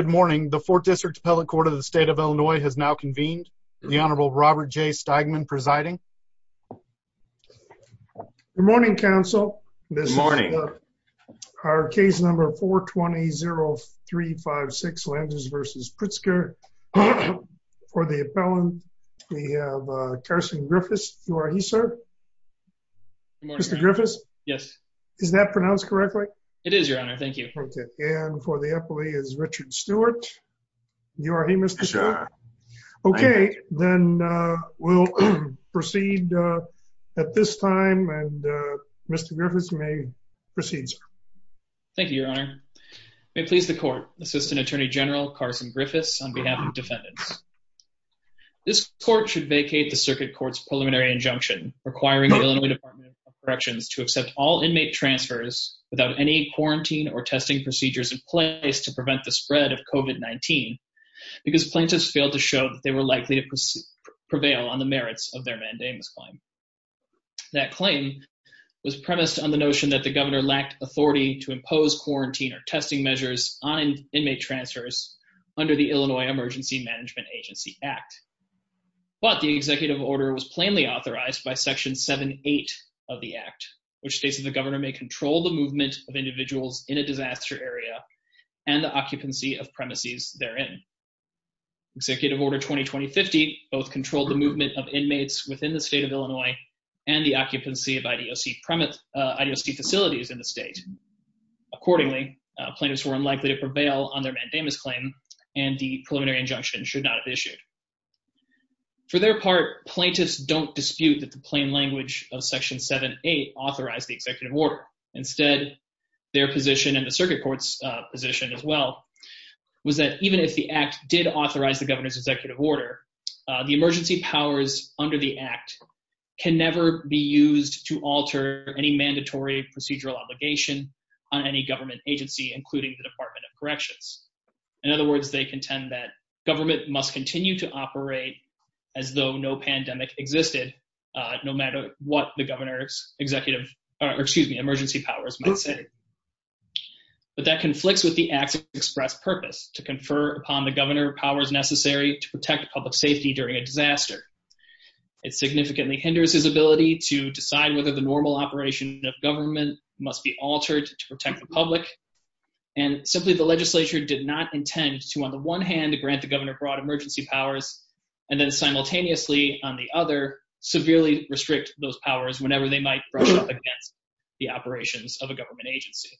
Good morning. The fourth district appellate court of the state of Illinois has now convened. The Honorable Robert J. Steigman presiding. Good morning, counsel. Good morning. Our case number 420-0356 Landers v. Pritzker. For the appellant, we have Carson Griffiths. You are he, sir? Good morning. Mr. Griffiths? Yes. Is that pronounced correctly? It is, Your Honor. Thank you. And for the appellee is Richard Stewart. You are he, Mr. Stewart? Yes, sir. Okay, then we'll proceed at this time, and Mr. Griffiths may proceed, sir. Thank you, Your Honor. May it please the court, Assistant Attorney General Carson Griffiths on behalf of defendants. This court should vacate the circuit court's preliminary injunction requiring the Illinois Department of Corrections to accept all inmate transfers without any quarantine or testing procedures in place to prevent the spread of COVID-19 because plaintiffs failed to show that they were likely to prevail on the merits of their mandamus claim. That claim was premised on the notion that the governor lacked authority to impose quarantine or testing measures on inmate transfers under the Illinois Emergency Management Agency Act. But the executive order was plainly authorized by Section 7.8 of the Act, which states that the governor may control the movement of individuals in a disaster area and the occupancy of premises therein. Executive Order 2020-50 both controlled the movement of inmates within the state of Illinois and the occupancy of IDOC facilities in the state. Accordingly, plaintiffs were unlikely to prevail on their mandamus claim, and the preliminary injunction should not have issued. For their part, plaintiffs don't dispute that the plain language of Section 7.8 authorized the executive order. Instead, their position, and the circuit court's position as well, was that even if the Act did authorize the governor's executive order, the emergency powers under the Act can never be used to alter any mandatory procedural obligation on any government agency, including the Department of Corrections. In other words, they contend that government must continue to operate as though no pandemic existed, no matter what the governor's emergency powers might say. But that conflicts with the Act's express purpose, to confer upon the governor powers necessary to protect public safety during a disaster. It significantly hinders his ability to decide whether the normal operation of government must be altered to protect the public, and simply the legislature did not intend to, on the one hand, grant the governor broad emergency powers, and then simultaneously, on the other, severely restrict those powers whenever they might brush up against the operations of a government agency.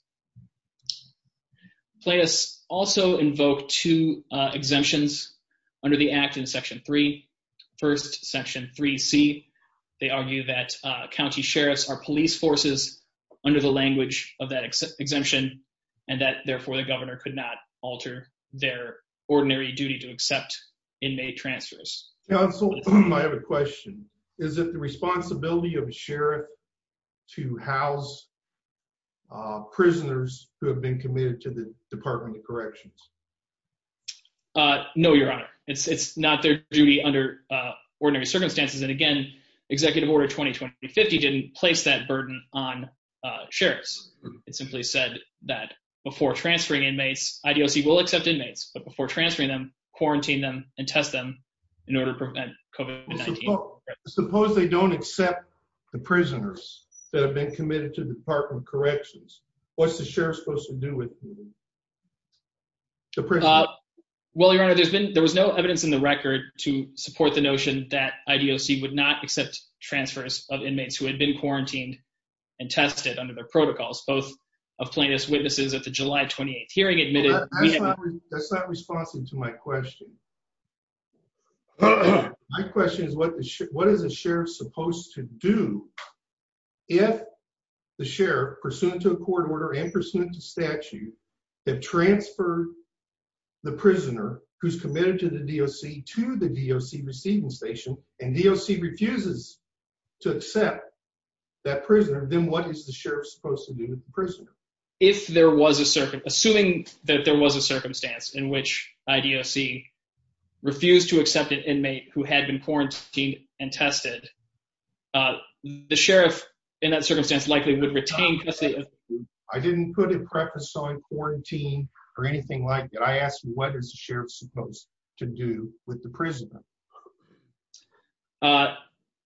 Plaintiffs also invoke two exemptions under the Act in Section 3. First, Section 3C, they argue that county sheriffs are police forces under the language of that exemption, and that, therefore, the governor could not alter their ordinary duty to accept inmate transfers. Counsel, I have a question. Is it the responsibility of a sheriff to house prisoners who have been committed to the Department of Corrections? No, Your Honor. It's not their duty under ordinary circumstances, and again, Executive Order 2020-50 didn't place that burden on sheriffs. It simply said that before transferring inmates, IDOC will accept inmates, but before transferring them, quarantine them and test them in order to prevent COVID-19. Suppose they don't accept the prisoners that have been committed to the Department of Corrections. What's the sheriff supposed to do with them? Well, Your Honor, there was no evidence in the record to support the notion that IDOC would not accept transfers of inmates who had been quarantined and tested under their protocols, both of plaintiffs' witnesses at the July 28 hearing admitted— That's not responsive to my question. My question is, what is a sheriff supposed to do if the sheriff, pursuant to a court order and pursuant to statute, had transferred the prisoner who's committed to the DOC to the DOC receiving station, and DOC refuses to accept that prisoner, then what is the sheriff supposed to do with the prisoner? Assuming that there was a circumstance in which IDOC refused to accept an inmate who had been quarantined and tested, the sheriff in that circumstance likely would retain custody of— I didn't put a preface on quarantine or anything like that. I asked you what is the sheriff supposed to do with the prisoner.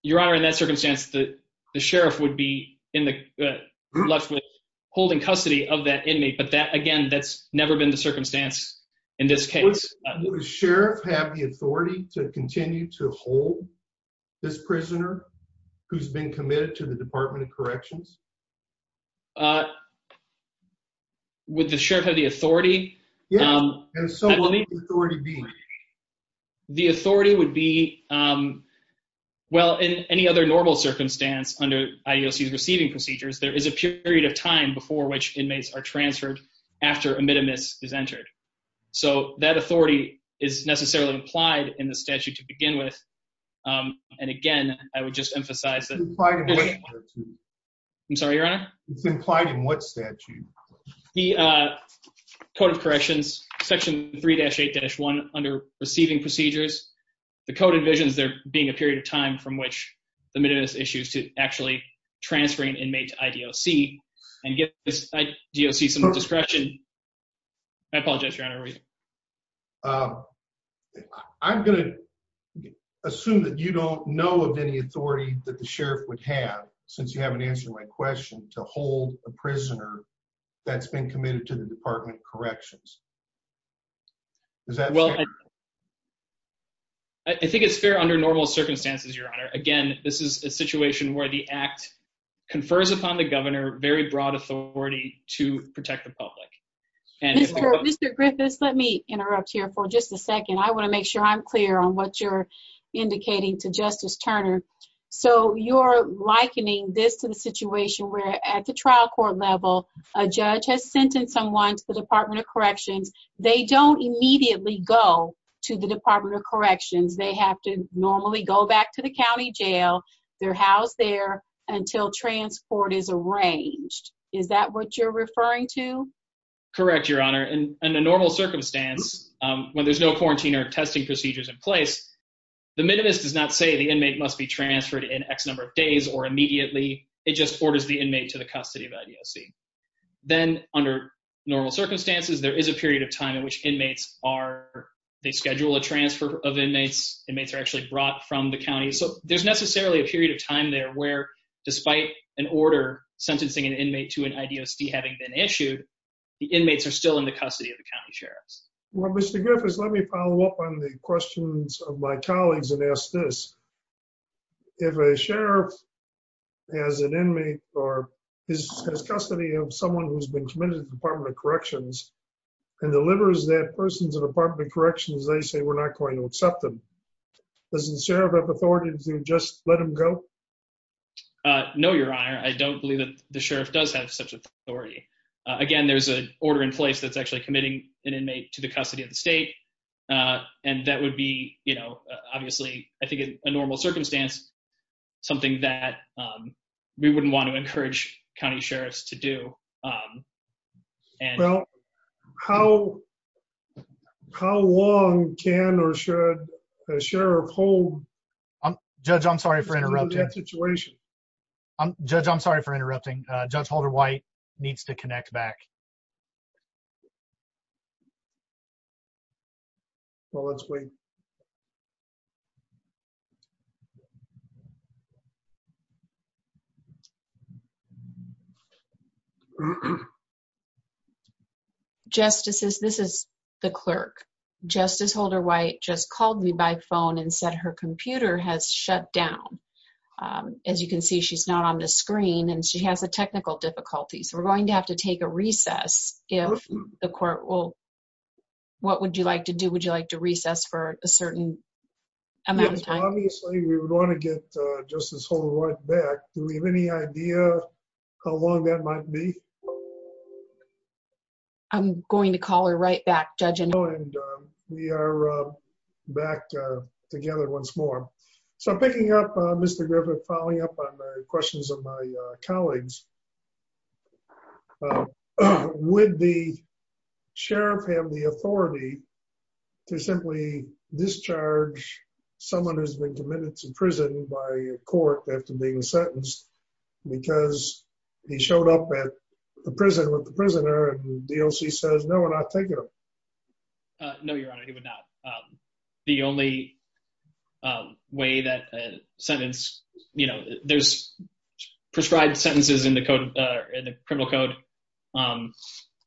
Your Honor, in that circumstance, the sheriff would be left with holding custody of that inmate, but that, again, that's never been the circumstance in this case. Would the sheriff have the authority to continue to hold this prisoner who's been committed to the Department of Corrections? Would the sheriff have the authority? Yes. And so what would the authority be? The authority would be, well, in any other normal circumstance under IDOC's receiving procedures, there is a period of time before which inmates are transferred after a minimus is entered. So that authority is necessarily implied in the statute to begin with. And, again, I would just emphasize that— It's implied in what statute? I'm sorry, Your Honor? It's implied in what statute? The Code of Corrections, Section 3-8-1, under receiving procedures. The code envisions there being a period of time from which the minimus issues to actually transferring an inmate to IDOC and give this IDOC some discretion. I apologize, Your Honor. I'm going to assume that you don't know of any authority that the sheriff would have, since you haven't answered my question, to hold a prisoner that's been committed to the Department of Corrections. Is that fair? I think it's fair under normal circumstances, Your Honor. Again, this is a situation where the act confers upon the governor very broad authority to protect the public. Mr. Griffiths, let me interrupt here for just a second. I want to make sure I'm clear on what you're indicating to Justice Turner. So you're likening this to the situation where, at the trial court level, a judge has sentenced someone to the Department of Corrections. They don't immediately go to the Department of Corrections. They have to normally go back to the county jail. They're housed there until transport is arranged. Is that what you're referring to? Correct, Your Honor. In a normal circumstance, when there's no quarantine or testing procedures in place, the minimus does not say the inmate must be transferred in X number of days or immediately. It just orders the inmate to the custody of IDOC. Then, under normal circumstances, there is a period of time in which inmates are—they schedule a transfer of inmates. Inmates are actually brought from the county. So there's necessarily a period of time there where, despite an order sentencing an inmate to an IDOC having been issued, the inmates are still in the custody of the county sheriffs. Well, Mr. Griffiths, let me follow up on the questions of my colleagues and ask this. If a sheriff has an inmate or is in custody of someone who's been committed to the Department of Corrections and delivers that person to the Department of Corrections, they say, we're not going to accept them. Doesn't the sheriff have authority to just let them go? No, Your Honor. I don't believe that the sheriff does have such authority. Again, there's an order in place that's actually committing an inmate to the custody of the state. And that would be, you know, obviously, I think in a normal circumstance, something that we wouldn't want to encourage county sheriffs to do. Well, how long can or should a sheriff hold— Judge, I'm sorry for interrupting. —in that situation? Judge, I'm sorry for interrupting. Judge Holder-White needs to connect back. Well, let's wait. Justices, this is the clerk. Justice Holder-White just called me by phone and said her computer has shut down. As you can see, she's not on the screen, and she has a technical difficulty. So we're going to have to take a recess if the court will— What would you like to do? Would you like to recess for a certain amount of time? Obviously, we would want to get Justice Holder-White back. Do we have any idea how long that might be? I'm going to call her right back, Judge. We are back together once more. So I'm picking up, Mr. Griffith, following up on the questions of my colleagues. Would the sheriff have the authority to simply discharge someone who's been committed to prison by court after being sentenced because he showed up at the prison with the prisoner, and the DOC says, no, we're not taking him? No, Your Honor, he would not. The only way that a sentence— There's prescribed sentences in the criminal code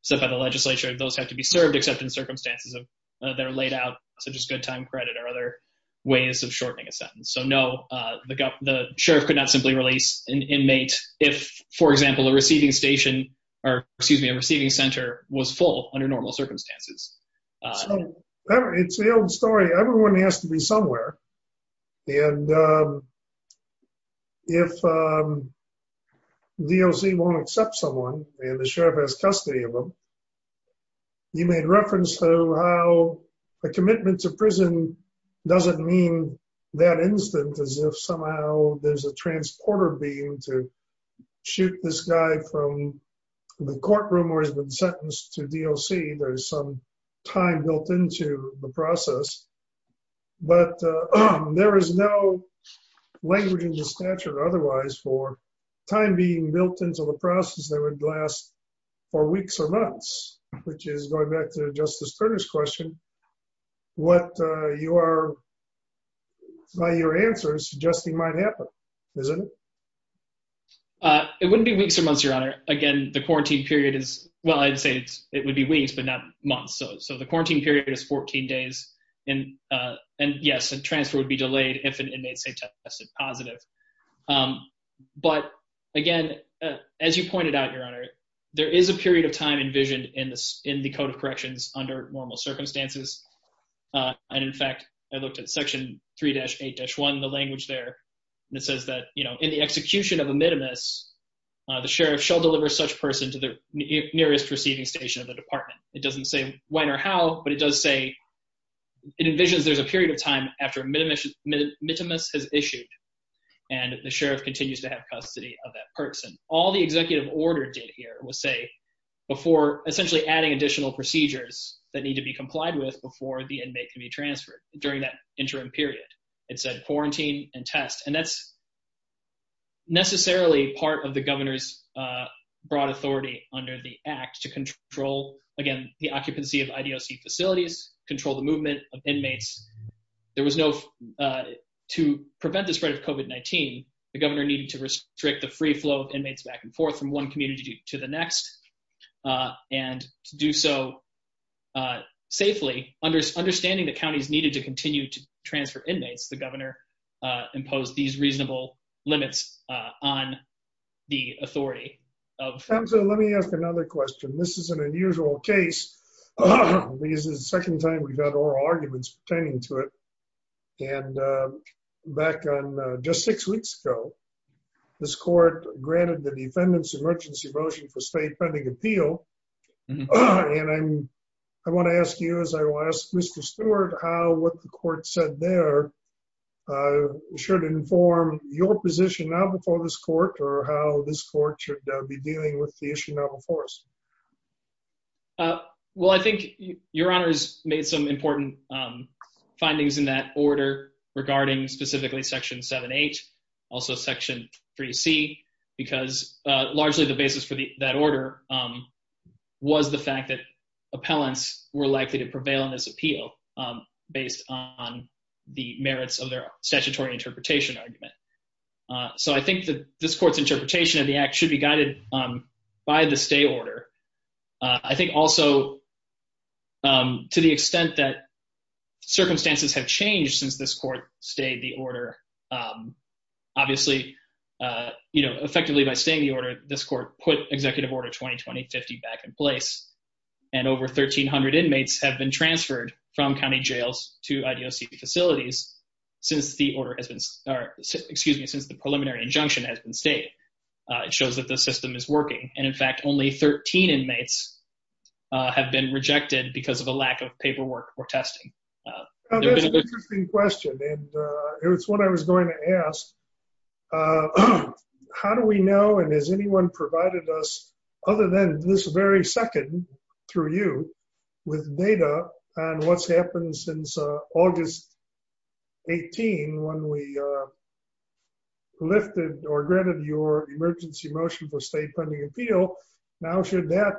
set by the legislature. Those have to be served except in circumstances that are laid out, such as good time credit or other ways of shortening a sentence. So, no, the sheriff could not simply release an inmate if, for example, a receiving station—or, excuse me, a receiving center was full under normal circumstances. It's the old story. Everyone has to be somewhere. And if DOC won't accept someone and the sheriff has custody of them, you made reference to how a commitment to prison doesn't mean that instant as if somehow there's a transporter beam to shoot this guy from the courtroom where he's been sentenced to DOC. There's some time built into the process. But there is no language in the statute otherwise for time being built into the process that would last for weeks or months, which is, going back to Justice Turner's question, what you are, by your answers, suggesting might happen, isn't it? It wouldn't be weeks or months, Your Honor. Again, the quarantine period is—well, I'd say it would be weeks but not months. So the quarantine period is 14 days. And, yes, a transfer would be delayed if an inmate, say, tested positive. But, again, as you pointed out, Your Honor, there is a period of time envisioned in the Code of Corrections under normal circumstances. And, in fact, I looked at Section 3-8-1, the language there, and it says that, you know, in the execution of a minimus, the sheriff shall deliver such person to the nearest receiving station of the department. It doesn't say when or how, but it does say— it envisions there's a period of time after a minimus has issued, and the sheriff continues to have custody of that person. All the executive order did here was say, before essentially adding additional procedures that need to be complied with before the inmate can be transferred during that interim period, it said quarantine and test. And that's necessarily part of the governor's broad authority under the Act to control, again, the occupancy of IDOC facilities, control the movement of inmates. There was no—to prevent the spread of COVID-19, the governor needed to restrict the free flow of inmates back and forth from one community to the next. And to do so safely, understanding the counties needed to continue to transfer inmates, the governor imposed these reasonable limits on the authority of— Let me ask another question. This is an unusual case. This is the second time we've had oral arguments pertaining to it. And back on just six weeks ago, this court granted the defendant's emergency motion for state pending appeal. And I want to ask you, as I will ask Mr. Stewart, how what the court said there should inform your position now before this court or how this court should be dealing with the issue now before us? Well, I think Your Honor has made some important findings in that order regarding specifically Section 7-8, also Section 3C, because largely the basis for that order was the fact that appellants were likely to prevail in this appeal based on the merits of their statutory interpretation argument. So I think that this court's interpretation of the act should be guided by the stay order. I think also to the extent that circumstances have changed since this court stayed the order, obviously, you know, effectively by staying the order, this court put Executive Order 2020-50 back in place, and over 1,300 inmates have been transferred from county jails to IDOC facilities since the order has been or excuse me, since the preliminary injunction has been stayed. It shows that the system is working. And, in fact, only 13 inmates have been rejected because of a lack of paperwork or testing. That's an interesting question, and it's one I was going to ask. How do we know, and has anyone provided us other than this very second, through you, with data on what's happened since August 18 when we lifted or granted your emergency motion for state pending appeal? Now should that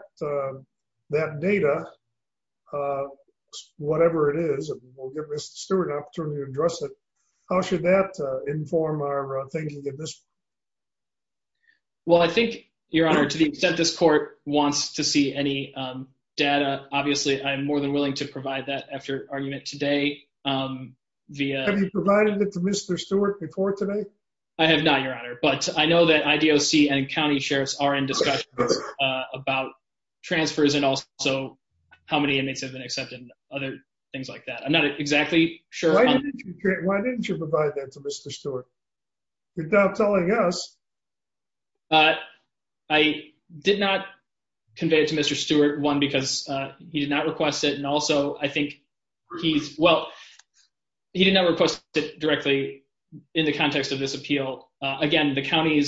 data, whatever it is, and we'll give Mr. Stewart an opportunity to address it, how should that inform our thinking of this? Well, I think, Your Honor, to the extent this court wants to see any data, obviously, I'm more than willing to provide that after argument today. Have you provided it to Mr. Stewart before today? I have not, Your Honor, but I know that IDOC and county sheriffs are in discussions about transfers and also how many inmates have been accepted and other things like that. I'm not exactly sure. Why didn't you provide that to Mr. Stewart? Without telling us. I did not convey it to Mr. Stewart, one, because he did not request it, and also I think he's, well, he did not request it directly in the context of this appeal. Again, the county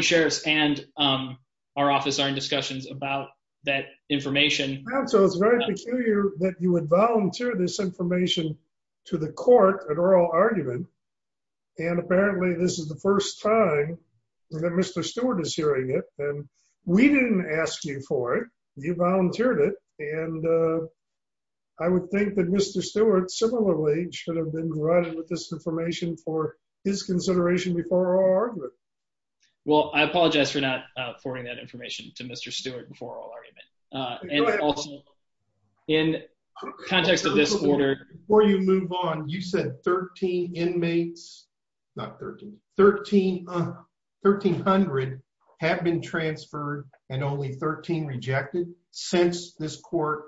sheriffs and our office are in discussions about that information. So it's very peculiar that you would volunteer this information to the court at oral argument, and apparently this is the first time that Mr. Stewart is hearing it, and we didn't ask you for it. You volunteered it, and I would think that Mr. Stewart similarly should have been provided with this information for his consideration before oral argument. Well, I apologize for not forwarding that information to Mr. Stewart before oral argument. And also in context of this order. Before you move on, you said 13 inmates, not 13, 1,300 have been transferred and only 13 rejected since this court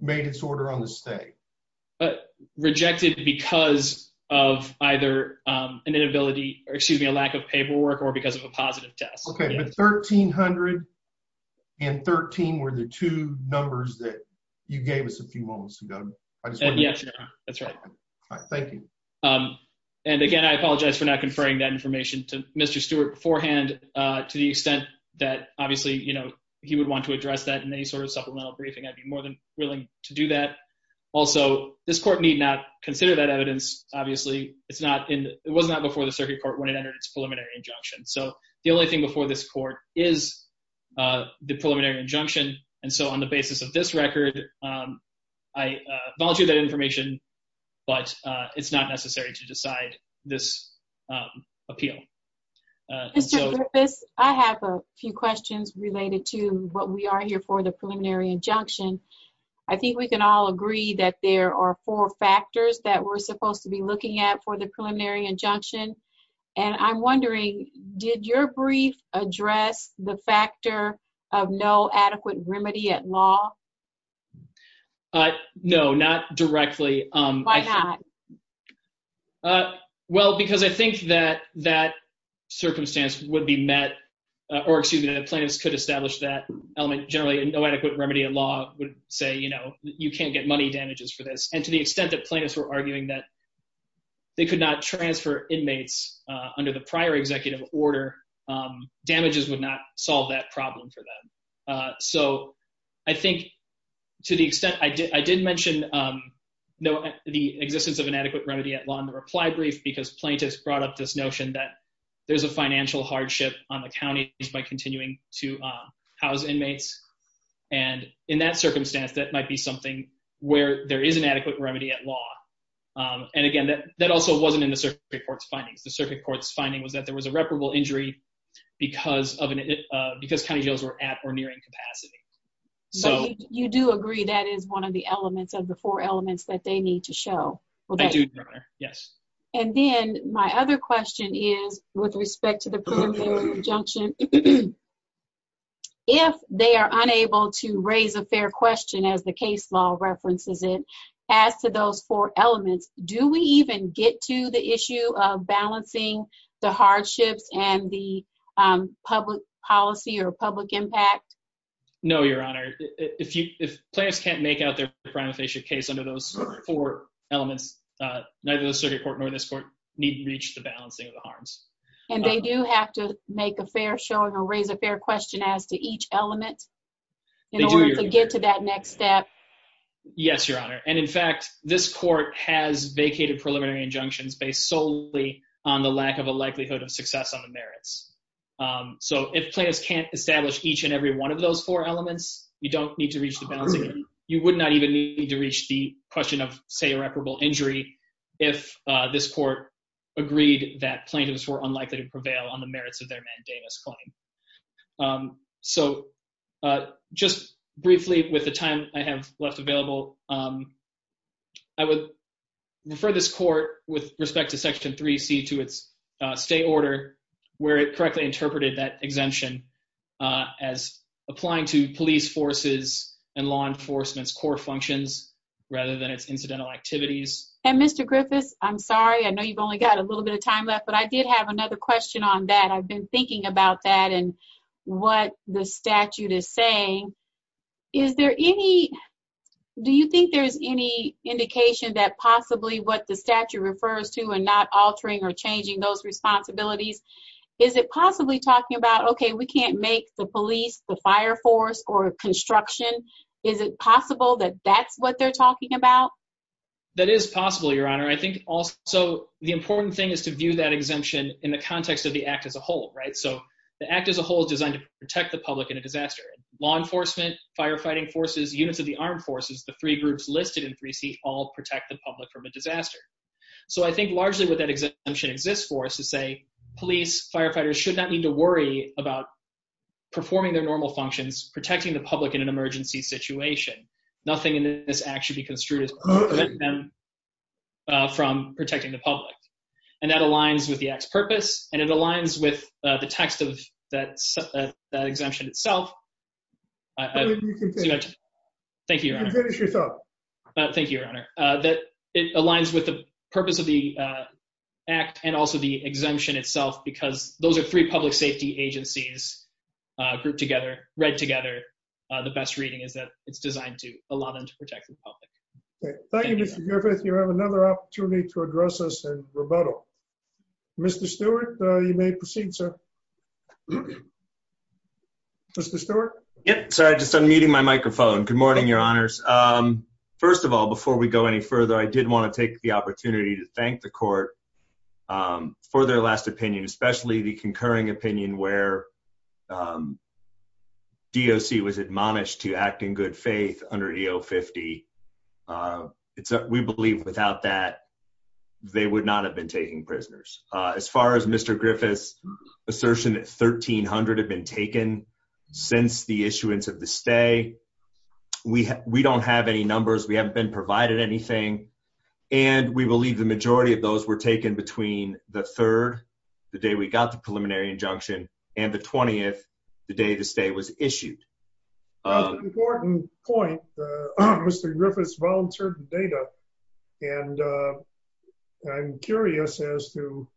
made its order on the stay. Rejected because of either an inability, or excuse me, a lack of paperwork or because of a positive test. Okay, but 1,300 and 13 were the two numbers that you gave us a few moments ago. Yes, that's right. Thank you. And again, I apologize for not conferring that information to Mr. Stewart beforehand to the extent that obviously, you know, he would want to address that in any sort of supplemental briefing. I'd be more than willing to do that. Also, this court need not consider that evidence. Obviously, it was not before the circuit court when it entered its preliminary injunction. So the only thing before this court is the preliminary injunction. And so on the basis of this record, I volunteer that information, but it's not necessary to decide this appeal. Mr. Griffiths, I have a few questions related to what we are here for the preliminary injunction. I think we can all agree that there are four factors that we're supposed to be looking at for the preliminary injunction. And I'm wondering, did your brief address the factor of no adequate remedy at law? No, not directly. Why not? Well, because I think that that circumstance would be met or excuse me, the plaintiffs could establish that element generally and no adequate remedy at law would say, you know, you can't get money damages for this. And to the extent that plaintiffs were arguing that they could not transfer inmates under the prior executive order, damages would not solve that problem for them. So I think to the extent I did mention the existence of an adequate remedy at law in the reply brief because plaintiffs brought up this notion that there's a financial hardship on the counties by continuing to house inmates. And in that circumstance, that might be something where there is an adequate remedy at law. And again, that also wasn't in the circuit court's findings. The circuit court's finding was that there was a reparable injury because county jails were at or nearing capacity. You do agree that is one of the elements of the four elements that they need to show. I do, Your Honor, yes. And then my other question is with respect to the preliminary injunction, if they are unable to raise a fair question, as the case law references it, as to those four elements, do we even get to the issue of balancing the hardships and the public policy or public impact? No, Your Honor. If plaintiffs can't make out their prima facie case under those four elements, need to reach the balancing of the harms. And they do have to make a fair showing or raise a fair question as to each element in order to get to that next step? Yes, Your Honor. And in fact, this court has vacated preliminary injunctions based solely on the lack of a likelihood of success on the merits. So if plaintiffs can't establish each and every one of those four elements, you don't need to reach the balancing. You would not even need to reach the question of, say, if plaintiffs were unlikely to prevail on the merits of their mandamus claim. So just briefly with the time I have left available, I would refer this court with respect to Section 3C to its state order where it correctly interpreted that exemption as applying to police forces and law enforcement's core functions rather than its incidental activities. And Mr. Griffiths, I'm sorry. I know you've only got a little bit of time left, but I did have another question on that. I've been thinking about that and what the statute is saying. Is there any – do you think there's any indication that possibly what the statute refers to and not altering or changing those responsibilities, is it possibly talking about, okay, we can't make the police, the fire force, or construction? Is it possible that that's what they're talking about? That is possible, Your Honor. I think also the important thing is to view that exemption in the context of the act as a whole, right? So the act as a whole is designed to protect the public in a disaster. Law enforcement, firefighting forces, units of the armed forces, the three groups listed in 3C all protect the public from a disaster. So I think largely what that exemption exists for is to say police, firefighters should not need to worry about performing their normal functions, protecting the public in an emergency situation. Nothing in this act should be construed as preventing them from protecting the public. And that aligns with the act's purpose, and it aligns with the text of that exemption itself. Thank you, Your Honor. You can finish yourself. Thank you, Your Honor. It aligns with the purpose of the act and also the exemption itself because those are three public safety agencies grouped together, read together. The best reading is that it's designed to allow them to protect the public. Thank you, Mr. Griffith. You have another opportunity to address us in rebuttal. Mr. Stewart, you may proceed, sir. Mr. Stewart? Sorry, just unmuting my microphone. Good morning, Your Honors. First of all, before we go any further, I did want to take the opportunity to thank the court for their last opinion, especially the concurring opinion where DOC was admonished to act in good faith under EO50. We believe without that they would not have been taking prisoners. As far as Mr. Griffith's assertion that 1,300 had been taken since the issuance of the stay, we don't have any numbers. We haven't been provided anything. And we believe the majority of those were taken between the third, the day we got the preliminary injunction, and the 20th, the day the stay was issued. That's an important point. Mr. Griffith's voluntary data, and I'm curious as to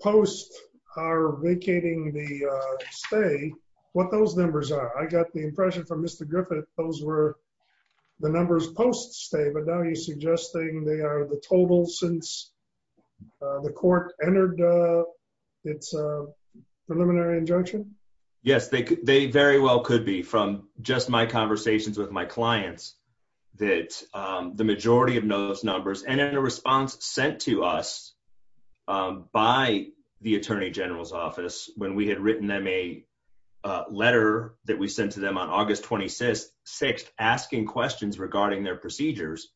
post our vacating the stay, what those numbers are. I got the impression from Mr. Griffith those were the numbers post stay, but now you're suggesting they are the total since the court entered its preliminary injunction? Yes, they very well could be. From just my conversations with my clients, that the majority of those numbers, and in a response sent to us by the Attorney General's office when we had written them a letter that we sent to them on August 26th asking questions regarding their procedures,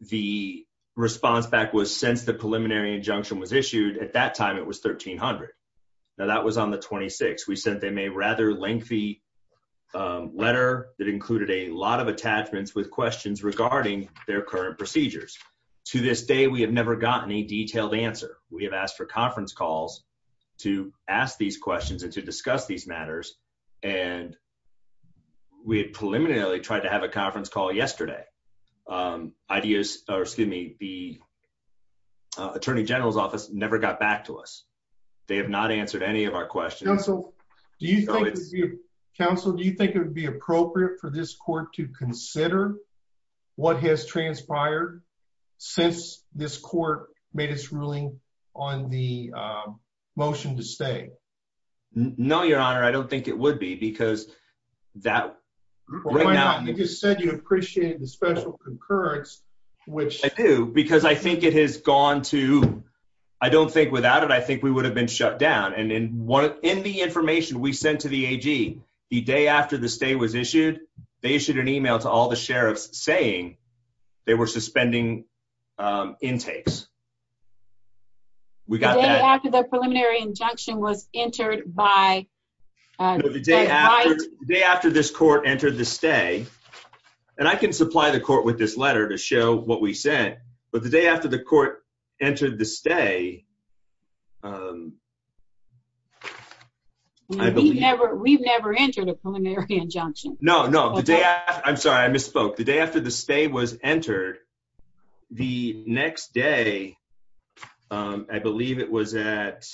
the response back was since the preliminary injunction was issued, at that time it was 1,300. Now that was on the 26th. We sent them a rather lengthy letter that included a lot of attachments with questions regarding their current procedures. To this day we have never gotten a detailed answer. We have asked for conference calls to ask these questions and to discuss these matters, and we had preliminarily tried to have a conference call yesterday. The Attorney General's office never got back to us. They have not answered any of our questions. Counsel, do you think it would be appropriate for this court to consider what has transpired since this court made its ruling on the motion to stay? No, Your Honor. I don't think it would be because that right now. You just said you appreciated the special concurrence. I do, because I think it has gone to, I don't think without it, I think we would have been shut down. And in the information we sent to the AG, the day after the stay was issued, they issued an email to all the sheriffs saying they were suspending intakes. We got that. The day after the preliminary injunction was entered by Mike. No, the day after this court entered the stay, and I can supply the court with this letter to show what we said, but the day after the court entered the stay, I believe. We've never entered a preliminary injunction. No, no. I'm sorry, I misspoke. The day after the stay was entered, the next day, I believe it was at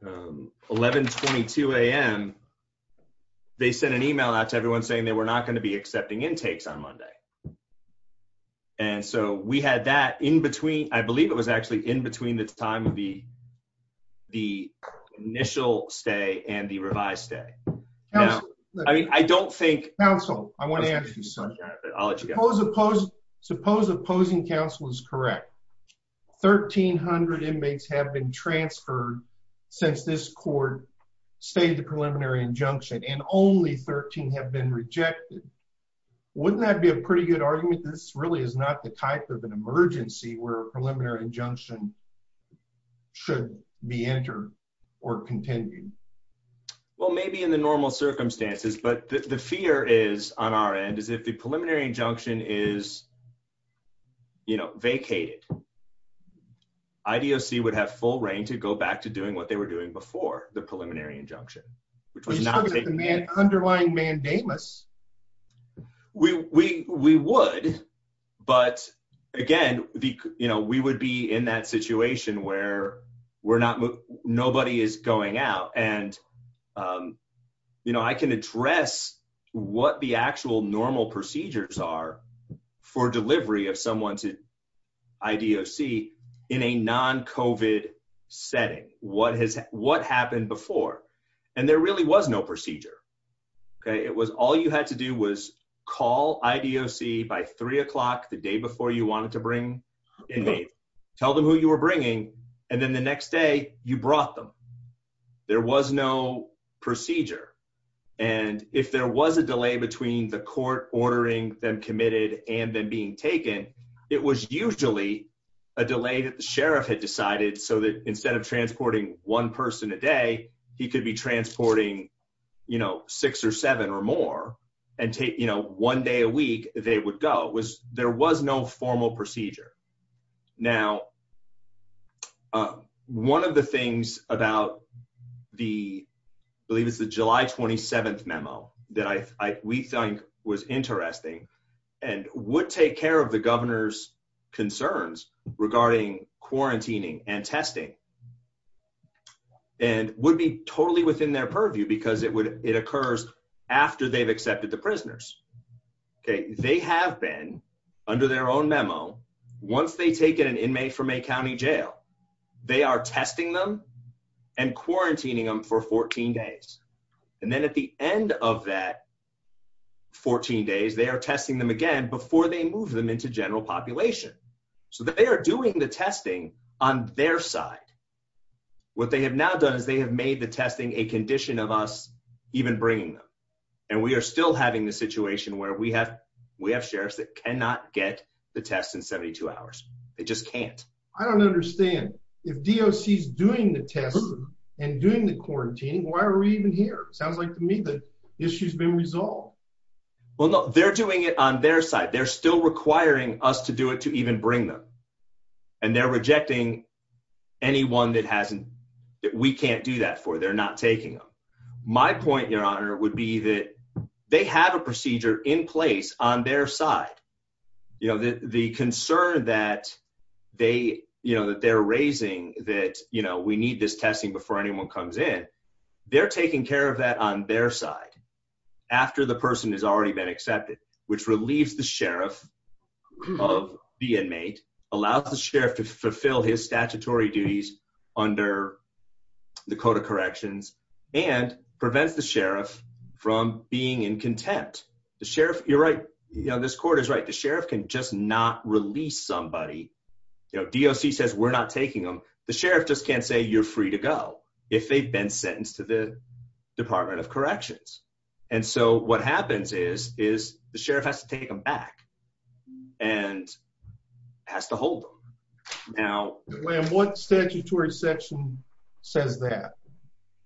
1122 AM. They sent an email out to everyone saying they were not going to be accepting intakes on Monday. And so we had that in between, I believe it was actually in between the time of the initial stay and the revised stay. Counsel, I want to ask you something. Suppose opposing counsel is correct. 1,300 inmates have been transferred since this court stated the preliminary injunction and only 13 have been rejected. Wouldn't that be a pretty good argument? This really is not the type of an emergency where a preliminary injunction should be entered or contended. Well, maybe in the normal circumstances, but the fear is on our end is if the preliminary injunction is. You know, vacated. IDOC would have full reign to go back to doing what they were doing before the preliminary injunction. Which was not the underlying mandamus. We, we, we would, but again, you know, We would be in that situation where we're not, nobody is going out and you know, I can address what the actual normal procedures are for delivery of someone's IDOC in a non COVID setting. What has, what happened before? And there really was no procedure. Okay. It was, all you had to do was call IDOC by three o'clock the day before you wanted to bring in. Tell them who you were bringing. And then the next day you brought them. There was no procedure. And if there was a delay between the court ordering them committed and then being taken, it was usually a delay that the sheriff had decided so that instead of transporting one person a day, he could be transporting, you know, that was the way they would go was there was no formal procedure. Now. One of the things about the. I believe it's the July 27th memo that I, we think was interesting and would take care of the governor's. Concerns regarding quarantining and testing. And would be totally within their purview because it would, it occurs after they've accepted the prisoners. Okay. They have been under their own memo. Once they take in an inmate from a County jail, they are testing them and quarantining them for 14 days. And then at the end of that 14 days, they are testing them again before they move them into general population. So they are doing the testing on their side. What they have now done is they have made the testing, a condition of us even bringing them. And we are still having the situation where we have, we have sheriffs that cannot get the test in 72 hours. They just can't. I don't understand. If DOC is doing the tests and doing the quarantine, why are we even here? It sounds like to me that issue has been resolved. Well, no, they're doing it on their side. They're still requiring us to do it, to even bring them. And they're rejecting anyone that hasn't, we can't do that for. They're not taking them. My point your honor would be that they have a procedure in place on their side. You know, the, the concern that they, you know, that they're raising that, you know, we need this testing before anyone comes in, they're taking care of that on their side. After the person has already been accepted, which relieves the sheriff of the inmate, allows the sheriff to fulfill his statutory duties under the code of corrections and prevents the sheriff from being in contempt. The sheriff you're right. You know, this court is right. The sheriff can just not release somebody. You know, DOC says we're not taking them. The sheriff just can't say you're free to go if they've been sentenced to the department of corrections. And so what happens is, is the sheriff has to take them back and has to hold them. Now what statutory section says that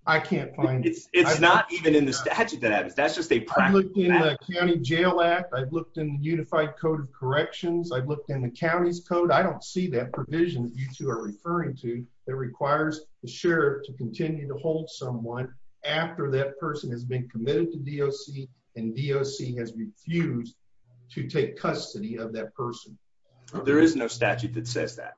I can't find. It's not even in the statute that happens. That's just a county jail act. I've looked in the unified code of corrections. I've looked in the county's code. I don't see that provision. You two are referring to that requires the sheriff to continue to hold someone after that person has been committed to DOC and DOC has refused to take custody of that person. There is no statute that says that.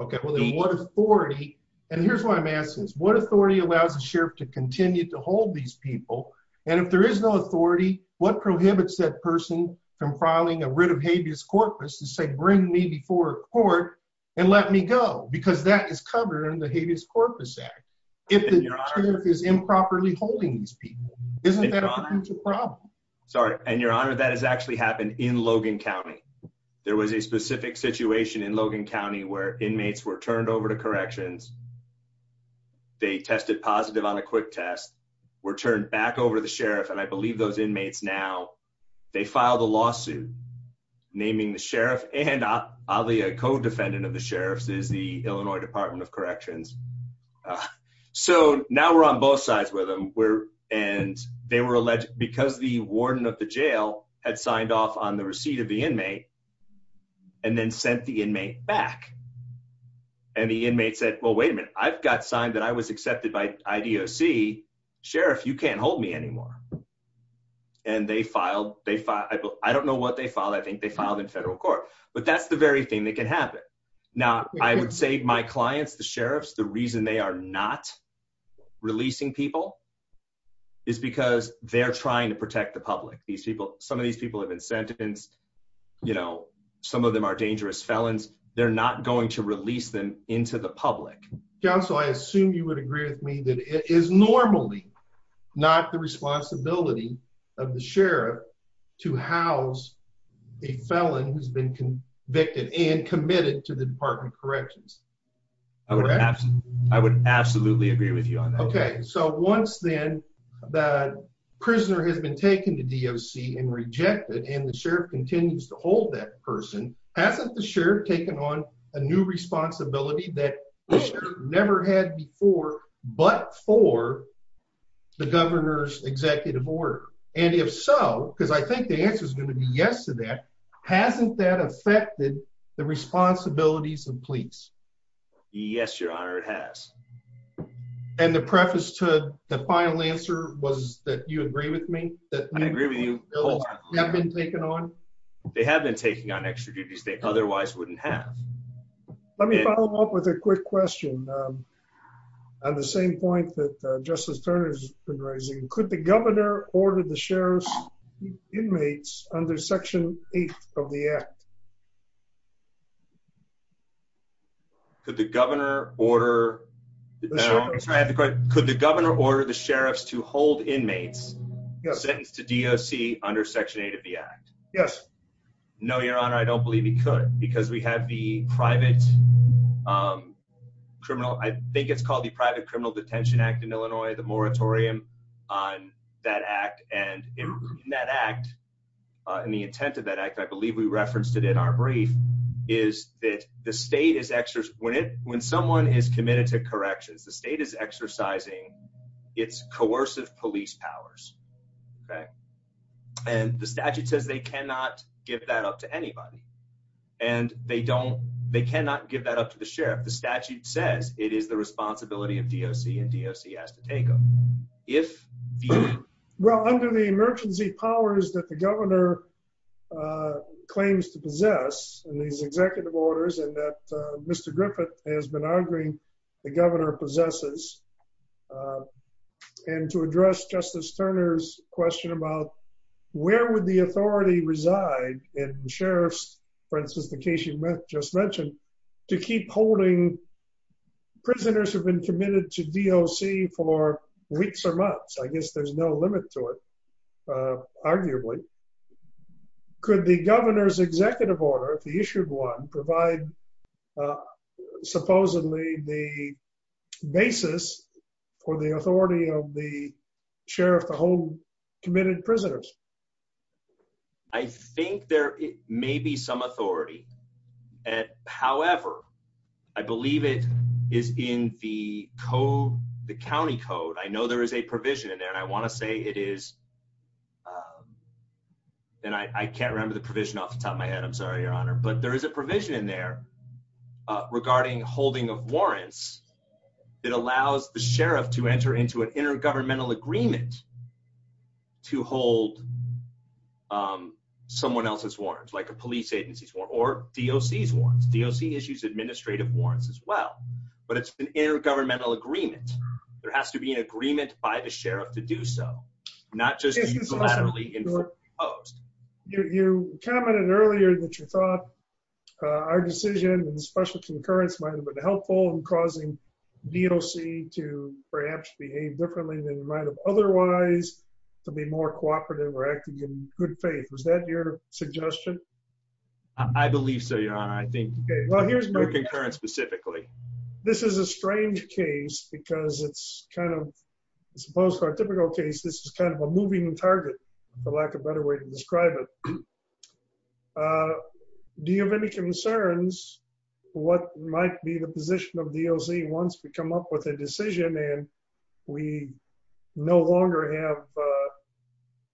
Okay. Well then what authority and here's what I'm asking is what authority allows the sheriff to continue to hold these people. And if there is no authority, what prohibits that person from filing a writ of habeas corpus to say, bring me before court and let me go, because that is covered in the habeas corpus act. If the sheriff is improperly holding these people, isn't that a problem? Sorry. And your honor, that has actually happened in Logan County. There was a specific situation in Logan County where inmates were turned over to corrections. They tested positive on a quick test were turned back over to the sheriff. And I believe those inmates now they filed a lawsuit naming the sheriff and I'll be a co-defendant of the sheriff's is the Illinois department of justice. So now we're on both sides with them. We're, and they were alleged, because the warden of the jail had signed off on the receipt of the inmate and then sent the inmate back and the inmates said, well, wait a minute. I've got signed that I was accepted by IDOC sheriff. You can't hold me anymore. And they filed, they filed. I don't know what they filed. I think they filed in federal court, but that's the very thing that can happen. Now I would say my clients, the sheriffs, the reason they are not releasing people is because they're trying to protect the public. These people, some of these people have been sentenced, you know, some of them are dangerous felons. They're not going to release them into the public. Council. I assume you would agree with me that it is normally not the responsibility of the sheriff to house a felon who's been convicted and committed to the department corrections. I would absolutely agree with you on that. Okay. So once then that prisoner has been taken to DOC and rejected and the sheriff continues to hold that person, hasn't the sheriff taken on a new responsibility that never had before, but for the governor's executive order. And if so, because I think the answer is going to be yes to that. Hasn't that affected the responsibilities of police? Yes, your honor. It has. And the preface to the final answer was that you agree with me that I agree with you. Have been taken on. They have been taking on extra duties. They otherwise wouldn't have. Let me follow up with a quick question. And the same point that justice Turner's been raising, could the governor order the sheriff's inmates under section eight of the act? Could the governor order? Could the governor order the sheriff's to hold inmates sentenced to DOC under section eight of the act? Yes. No, your honor. I don't believe he could because we have the private criminal. I think it's called the private criminal detention act in Illinois, the moratorium on that act. And in that act, and the intent of that act, I believe we referenced it in our brief is that the state is extra when it, when someone is committed to corrections, the state is exercising its coercive police powers. Okay. And the statute says they cannot give that up to anybody and they don't, they cannot give that up to the sheriff. The statute says, it is the responsibility of DOC and DOC has to take them if. Well, under the emergency powers that the governor claims to possess and these executive orders and that Mr. Griffith has been arguing the governor possesses and to address justice Turner's question about where would the authority reside in the sheriff's for instance, the case you just mentioned to keep holding prisoners who've been committed to DOC for weeks or months, I guess there's no limit to it. Arguably could the governor's executive order, the issued one provide supposedly the basis for the authority of the sheriff, the whole committed prisoners. I think there may be some authority at however, I believe it is in the code, the County code. I know there is a provision in there and I want to say it is, um, and I can't remember the provision off the top of my head. I'm sorry, your honor, but there is a provision in there, uh, regarding holding of warrants that allows the sheriff to enter into an intergovernmental agreement to hold, um, someone else's warrants like a police agency's warrants or DOC's warrants. DOC issues administrative warrants as well, but it's an intergovernmental agreement. There has to be an agreement by the sheriff to do so, not just unilaterally imposed. You commented earlier that your thought, uh, our decision and the special concurrence might've been helpful in causing DOC to perhaps behave differently than you might've otherwise to be more cooperative or acting in good faith. Was that your suggestion? I believe so, your honor. I think specifically, this is a strange case because it's kind of supposed to our typical case. This is kind of a moving target for lack of better way to describe it. Uh, do you have any concerns? What might be the position of DOC once we come up with a decision and we no longer have, uh,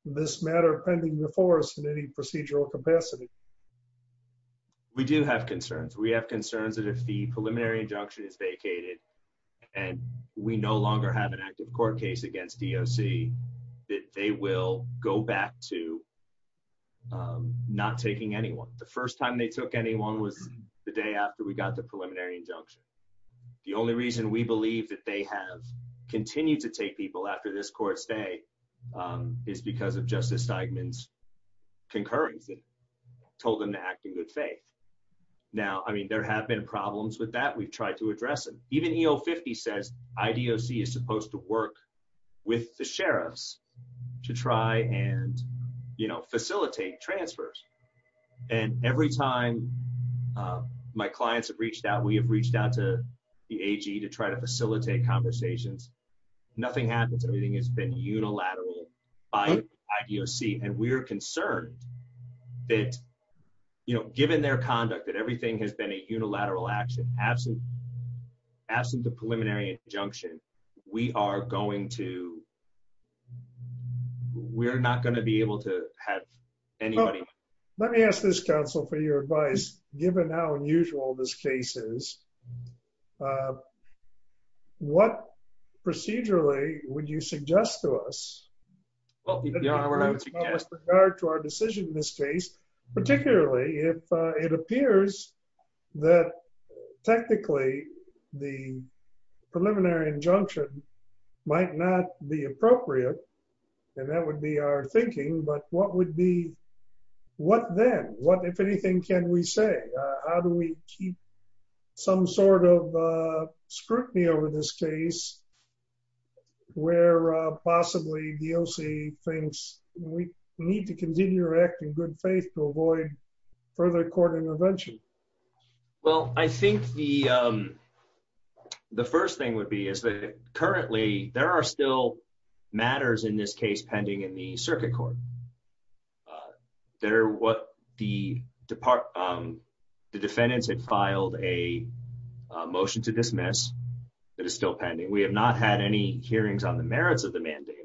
this matter pending before us in any procedural capacity? We do have concerns. We have concerns that if the preliminary injunction is vacated and we no longer have an active court case against DOC, that they will go back to, um, not taking anyone. The first time they took anyone was the day after we got the preliminary injunction. The only reason we believe that they have continued to take people after this court stay, um, is because of justice Eichmann's concurrence and told them to act in good faith. Now, I mean, there have been problems with that. We've tried to address them. Even EO 50 says IDOC is supposed to work with the sheriffs to try and, you know, facilitate transfers. And every time, um, my clients have reached out, we have reached out to the AG to try to facilitate conversations. Nothing happens. Everything has been unilateral by IDOC. And we are concerned that, you know, given their conduct that everything has been a unilateral action, absent absent the preliminary injunction, we are going to, we're not going to be able to have anybody. Let me ask this council for your advice, given how unusual this case is. Uh, what procedurally would you suggest to us? Well, regard to our decision in this case, particularly if, uh, it appears that technically the preliminary injunction might not be appropriate and that would be our thinking, but what would be, what then what, if anything, can we say, uh, how do we keep some sort of, uh, scrutiny over this case where, uh, possibly DOC things we need to continue to act in good faith to avoid Well, I think the, um, the first thing would be is that currently there are still matters in this case, pending in the circuit court, uh, that are what the department, um, the defendants had filed a motion to dismiss that is still pending. We have not had any hearings on the merits of the mandate.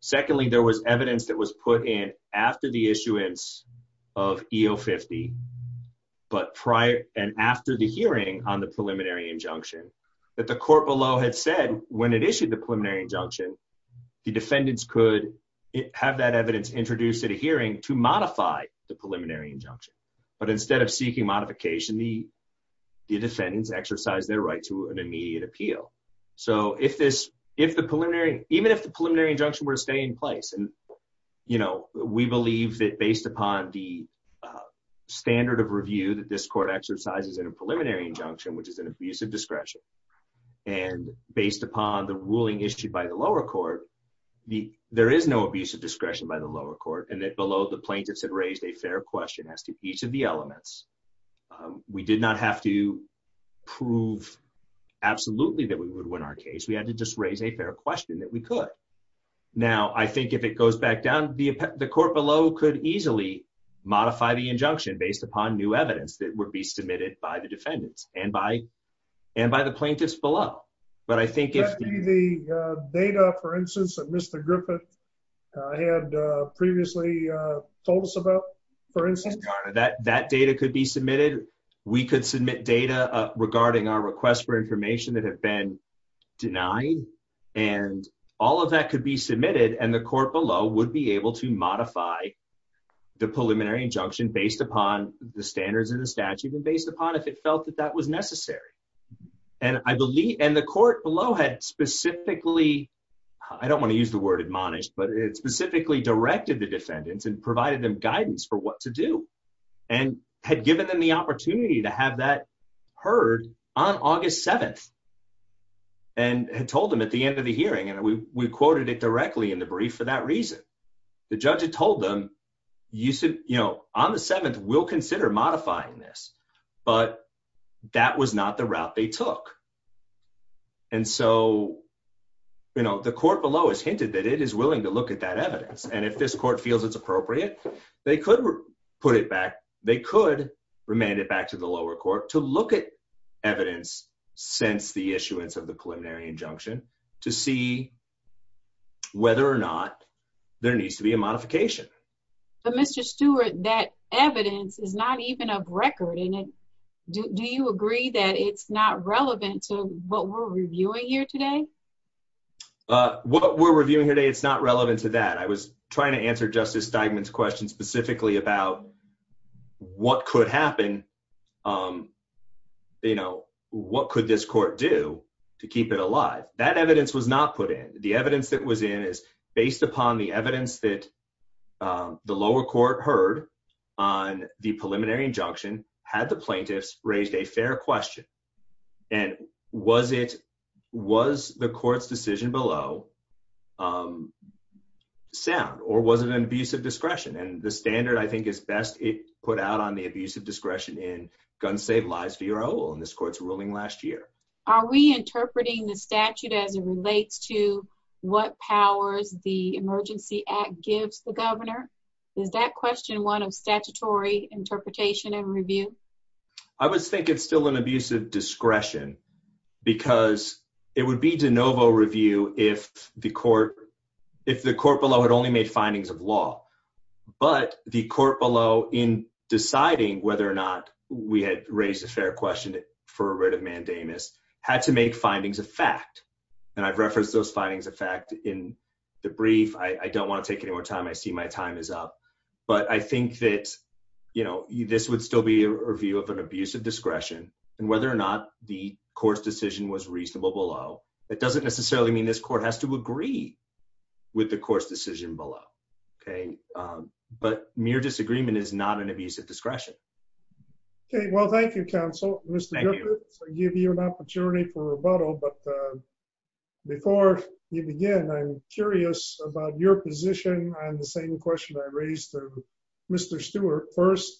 Secondly, there was evidence that was put in after the issuance of EO 50, but prior and after the hearing on the preliminary injunction that the court below had said when it issued the preliminary injunction, the defendants could have that evidence introduced at a hearing to modify the preliminary injunction. But instead of seeking modification, the defendants exercise their right to an immediate appeal. So if this, if the preliminary, even if the preliminary injunction were to stay in place and you know, we believe that based upon the, uh, standard of review that this court exercises in a preliminary injunction, which is an abusive discretion and based upon the ruling issued by the lower court, the, there is no abusive discretion by the lower court and that below the plaintiffs had raised a fair question as to each of the elements. Um, we did not have to prove absolutely that we would win our case. We had to just raise a fair question that we could. Now, I think if it goes back down, the, the court below could easily modify the injunction based upon new evidence that would be submitted by the defendants and by, and by the plaintiffs below. But I think if the data, for instance, that Mr. Griffith had previously told us about, for instance, that that data could be submitted, we could submit data regarding our requests for information that have been denied and all of that could be submitted. And the court below would be able to modify the preliminary injunction based upon the standards of the statute and based upon if it felt that that was necessary. And I believe, and the court below had specifically, I don't want to use the word admonished, but it specifically directed the defendants and provided them guidance for what to do and had given them the opportunity to have that heard on August 7th and had told them at the end of the hearing. And we quoted it directly in the brief for that reason, the judge had told them you said, you know, on the 7th, we'll consider modifying this, but that was not the route they took. And so, you know, the court below has hinted that it is willing to look at that evidence. And if this court feels it's appropriate, they could put it back. They could remand it back to the lower court to look at evidence since the issuance of the preliminary injunction to see whether or not there needs to be a modification. But Mr. Stewart, that evidence is not even a record in it. Do you agree that it's not relevant to what we're reviewing here today? What we're reviewing here today, it's not relevant to that. I was trying to answer Justice Steigman's question specifically about what could happen. You know, what could this court do to keep it alive? That evidence was not put in. The evidence that was in is based upon the evidence that the lower court heard on the preliminary injunction had the plaintiffs raised a fair question. And was it, was the court's decision below sound or was it an abuse of discretion? And the standard I think is best put out on the abuse of discretion in Gun Save Lives V.R.O. in this court's ruling last year. Are we interpreting the statute as it relates to what powers the Emergency Act gives the governor? Is that question one of statutory interpretation and review? I would think it's still an abuse of discretion because it would be de novo review if the court, if the court below had only made findings of law, but the court below in deciding whether or not we had raised a fair question for a writ of mandamus had to make findings of fact. And I've referenced those findings of fact in the brief. I don't want to take any more time. I see my time is up, but I think that, you know, this would still be a review of an abuse of discretion and whether or not the court's decision was reasonable below. It doesn't necessarily mean this court has to agree with the court's decision below. Okay. But mere disagreement is not an abuse of discretion. Okay. Well, thank you, counsel. I give you an opportunity for rebuttal. But before you begin, I'm curious about your position on the same question I raised to Mr. Stewart. First,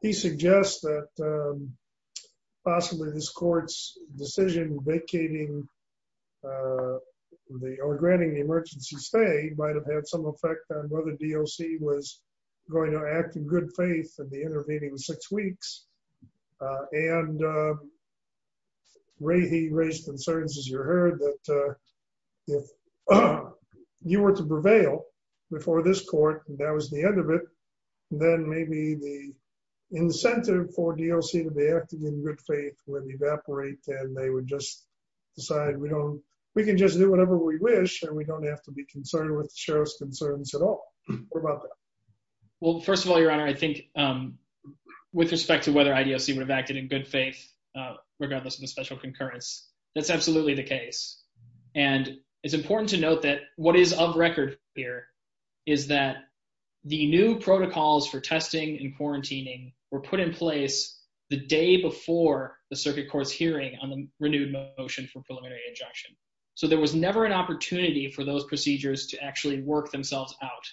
he suggests that possibly this court's decision vacating the granting the emergency stay might've had some effect on whether DOC was going to act in good faith and the intervening six weeks. And Ray, he raised concerns as you heard that if you were to prevail before this court and that was the end of it, then maybe the incentive for DOC to be acting in good faith would evaporate and they would just decide, we don't, we can just do whatever we wish and we don't have to be concerned with the sheriff's concerns at all. What about that? Well, first of all, your honor, I think, um, with respect to whether IDOC would have acted in good faith, uh, regardless of the special concurrence, that's absolutely the case. And it's important to note that what is of record here is that the new protocols for testing and quarantining were put in place the day before the circuit court's hearing on the renewed motion for preliminary injunction. So there was never an opportunity for those procedures to actually work themselves out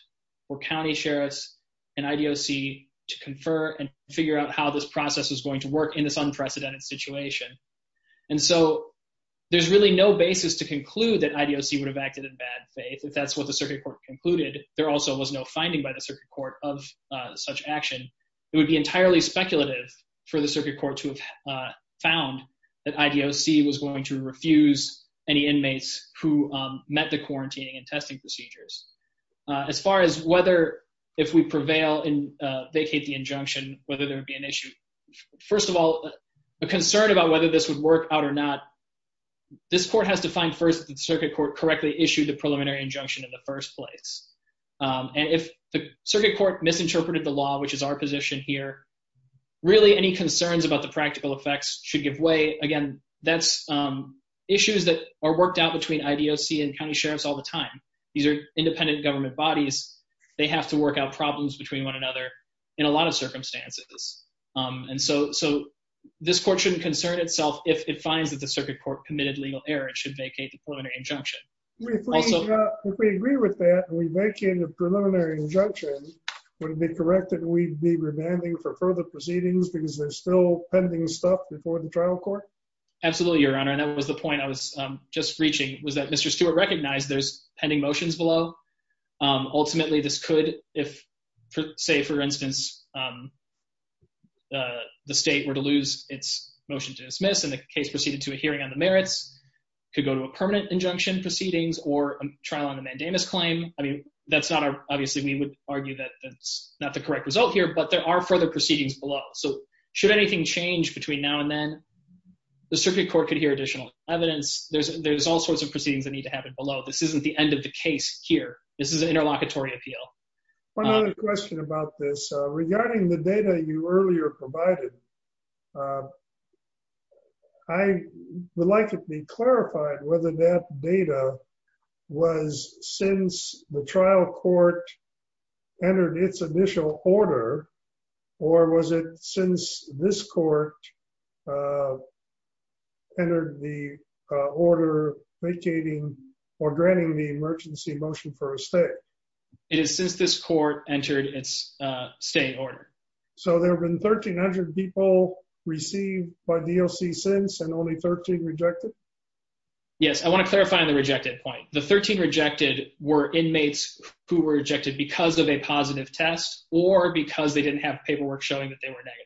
or county sheriffs and IDOC to confer and figure out how this process is going to work in this unprecedented situation. And so there's really no basis to conclude that IDOC would have acted in bad faith if that's what the circuit court concluded. There also was no finding by the circuit court of, uh, such action. It would be entirely speculative for the circuit court to have, uh, found that IDOC was going to refuse any inmates who, um, met the quarantining and testing procedures. Uh, as far as whether if we prevail and, uh, vacate the injunction, whether there would be an issue, first of all, a concern about whether this would work out or not, this court has to find first that the circuit court correctly issued the injunction. Um, and if the circuit court misinterpreted the law, which is our position here, really any concerns about the practical effects should give way again, that's, um, issues that are worked out between IDOC and county sheriffs all the time. These are independent government bodies. They have to work out problems between one another in a lot of circumstances. Um, and so, so this court shouldn't concern itself. If it finds that the circuit court committed legal error, it should vacate the preliminary injunction. If we agree with that and we vacate the preliminary injunction, would it be correct that we'd be remanding for further proceedings because there's still pending stuff before the trial court? Absolutely, Your Honor. And that was the point I was, um, just reaching, was that Mr. Stewart recognized there's pending motions below. Um, ultimately this could, if say for instance, um, uh, the state were to lose its motion to dismiss and the case proceeded to a preliminary injunction proceedings or a trial on the mandamus claim. I mean, that's not our, obviously we would argue that that's not the correct result here, but there are further proceedings below. So should anything change between now and then the circuit court could hear additional evidence. There's, there's all sorts of proceedings that need to happen below. This isn't the end of the case here. This is an interlocutory appeal. One other question about this, uh, regarding the data you earlier provided, uh, I would like to be clarified, whether that data was since the trial court entered its initial order or was it since this court, uh, entered the order vacating or granting the emergency motion for a state? It is since this court entered its, uh, state order. So there've been 1300 people received by DOC since and only 13 rejected? Yes. I want to clarify on the rejected point. The 13 rejected were inmates who were rejected because of a positive test or because they didn't have paperwork showing that they were negative.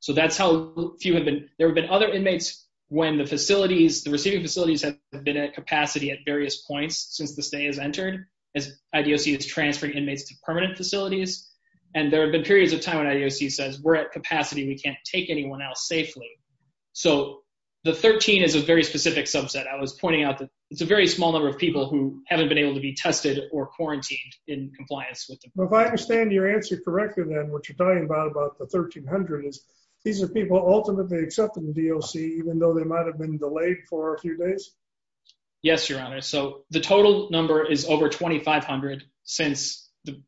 So that's how few have been. There have been other inmates when the facilities, the receiving facilities have been at capacity at various points since this day has entered as IDOC is transferring inmates to permanent facilities. And there have been periods of time when IDOC says we're at capacity, we can't take anyone else safely. So the 13 is a very specific subset. I was pointing out that it's a very small number of people who haven't been able to be tested or quarantined in compliance with them. If I understand your answer correctly, then what you're talking about about the 1300 is these are people ultimately accepting the DOC, even though they might've been delayed for a few days. Yes, Your Honor. So the total number is over 2,500 since the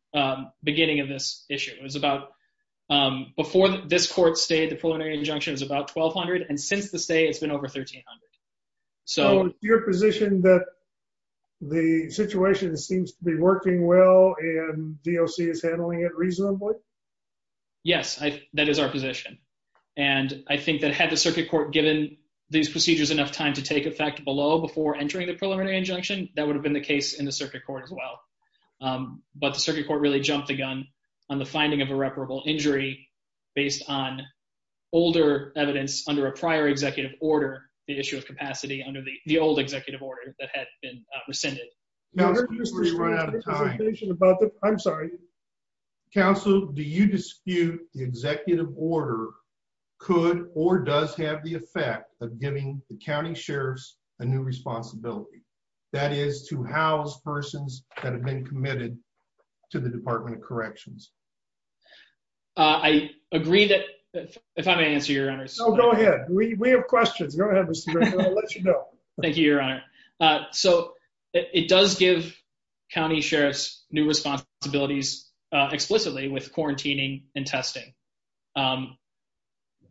beginning of this issue. It was about, um, before this court stayed, the preliminary injunction is about 1200 and since the state it's been over 1300. So your position that the situation seems to be working well and DOC is handling it reasonably. Yes, that is our position. And I think that had the circuit court given these procedures enough time to take effect below before entering the preliminary injunction, that would have been the case in the circuit court as well. but the circuit court really jumped the gun on the finding of irreparable injury based on older evidence under a prior executive order, the issue of capacity under the old executive order that had been rescinded. I'm sorry. Counsel, do you dispute the executive order could or does have the effect of giving the county sheriffs a new responsibility that is to house persons that have been committed to the department of corrections? Uh, I agree that if I may answer your honors. So go ahead. We, we have questions. Go ahead. I'll let you know. Thank you, your honor. Uh, so it does give county sheriffs new responsibilities, uh, explicitly with quarantining and testing. Um,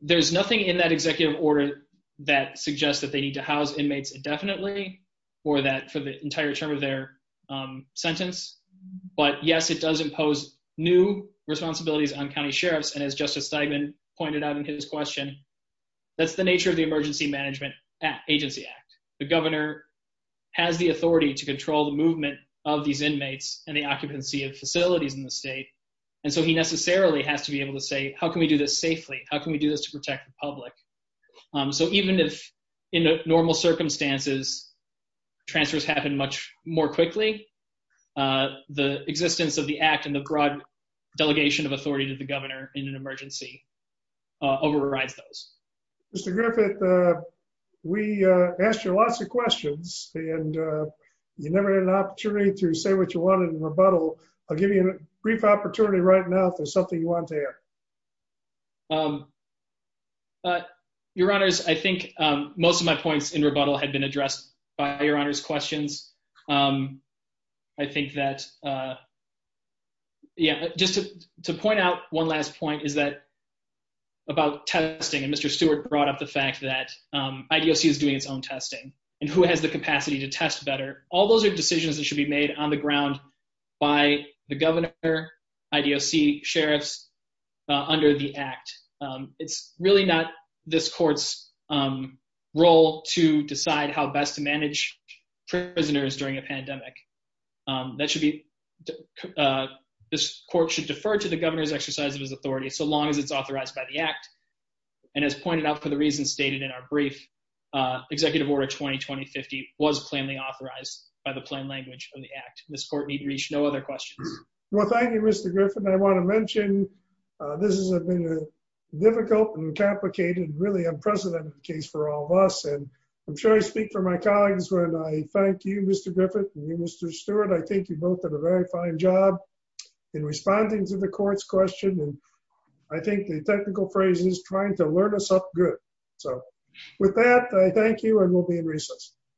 there's nothing in that executive order that suggests that they need to house inmates indefinitely or that for the entire term of their, um, sentence. But yes, it does impose new responsibilities on county sheriffs. And as justice segment pointed out in his question, that's the nature of the emergency management at agency act. The governor has the authority to control the movement of these inmates and the occupancy of facilities in the state. And so he necessarily has to be able to say, how can we do this safely? How can we do this to protect the public? Um, so even if in normal circumstances, transfers happen much more quickly, uh, the existence of the act and the broad delegation of authority to the governor in an emergency, uh, overrides those. Mr. Griffith, uh, we, uh, asked you lots of questions and, uh, you never had an opportunity to say what you wanted in rebuttal. I'll give you a brief opportunity right now for something you want to have. Um, uh, your honors. I think, um, most of my points in rebuttal had been addressed by your honors questions. Um, I think that, uh, yeah, just to point out one last point is that about testing. And Mr. Stewart brought up the fact that, um, IDOC is doing its own testing and who has the capacity to test better. All those are decisions that should be made on the ground by the governor IDOC sheriffs, uh, under the act. Um, it's really not this court's, um, role to decide how best to manage prisoners during a pandemic. Um, that should be, uh, this court should defer to the governor's exercise of his authority so long as it's authorized by the act. And as pointed out for the reasons stated in our brief, uh, executive order 2020 50 was plainly authorized by the plain language of the act. This court need reach no other questions. Well, thank you, Mr. Griffin. I want to mention, uh, this is a difficult and complicated, really unprecedented case for all of us. And I'm sure I speak for my colleagues when I thank you, Mr. Griffin, Mr. Stewart. I think you both did a very fine job in responding to the court's question. And I think the technical phrase is trying to learn us up good. So with that, I thank you. And we'll be in recess.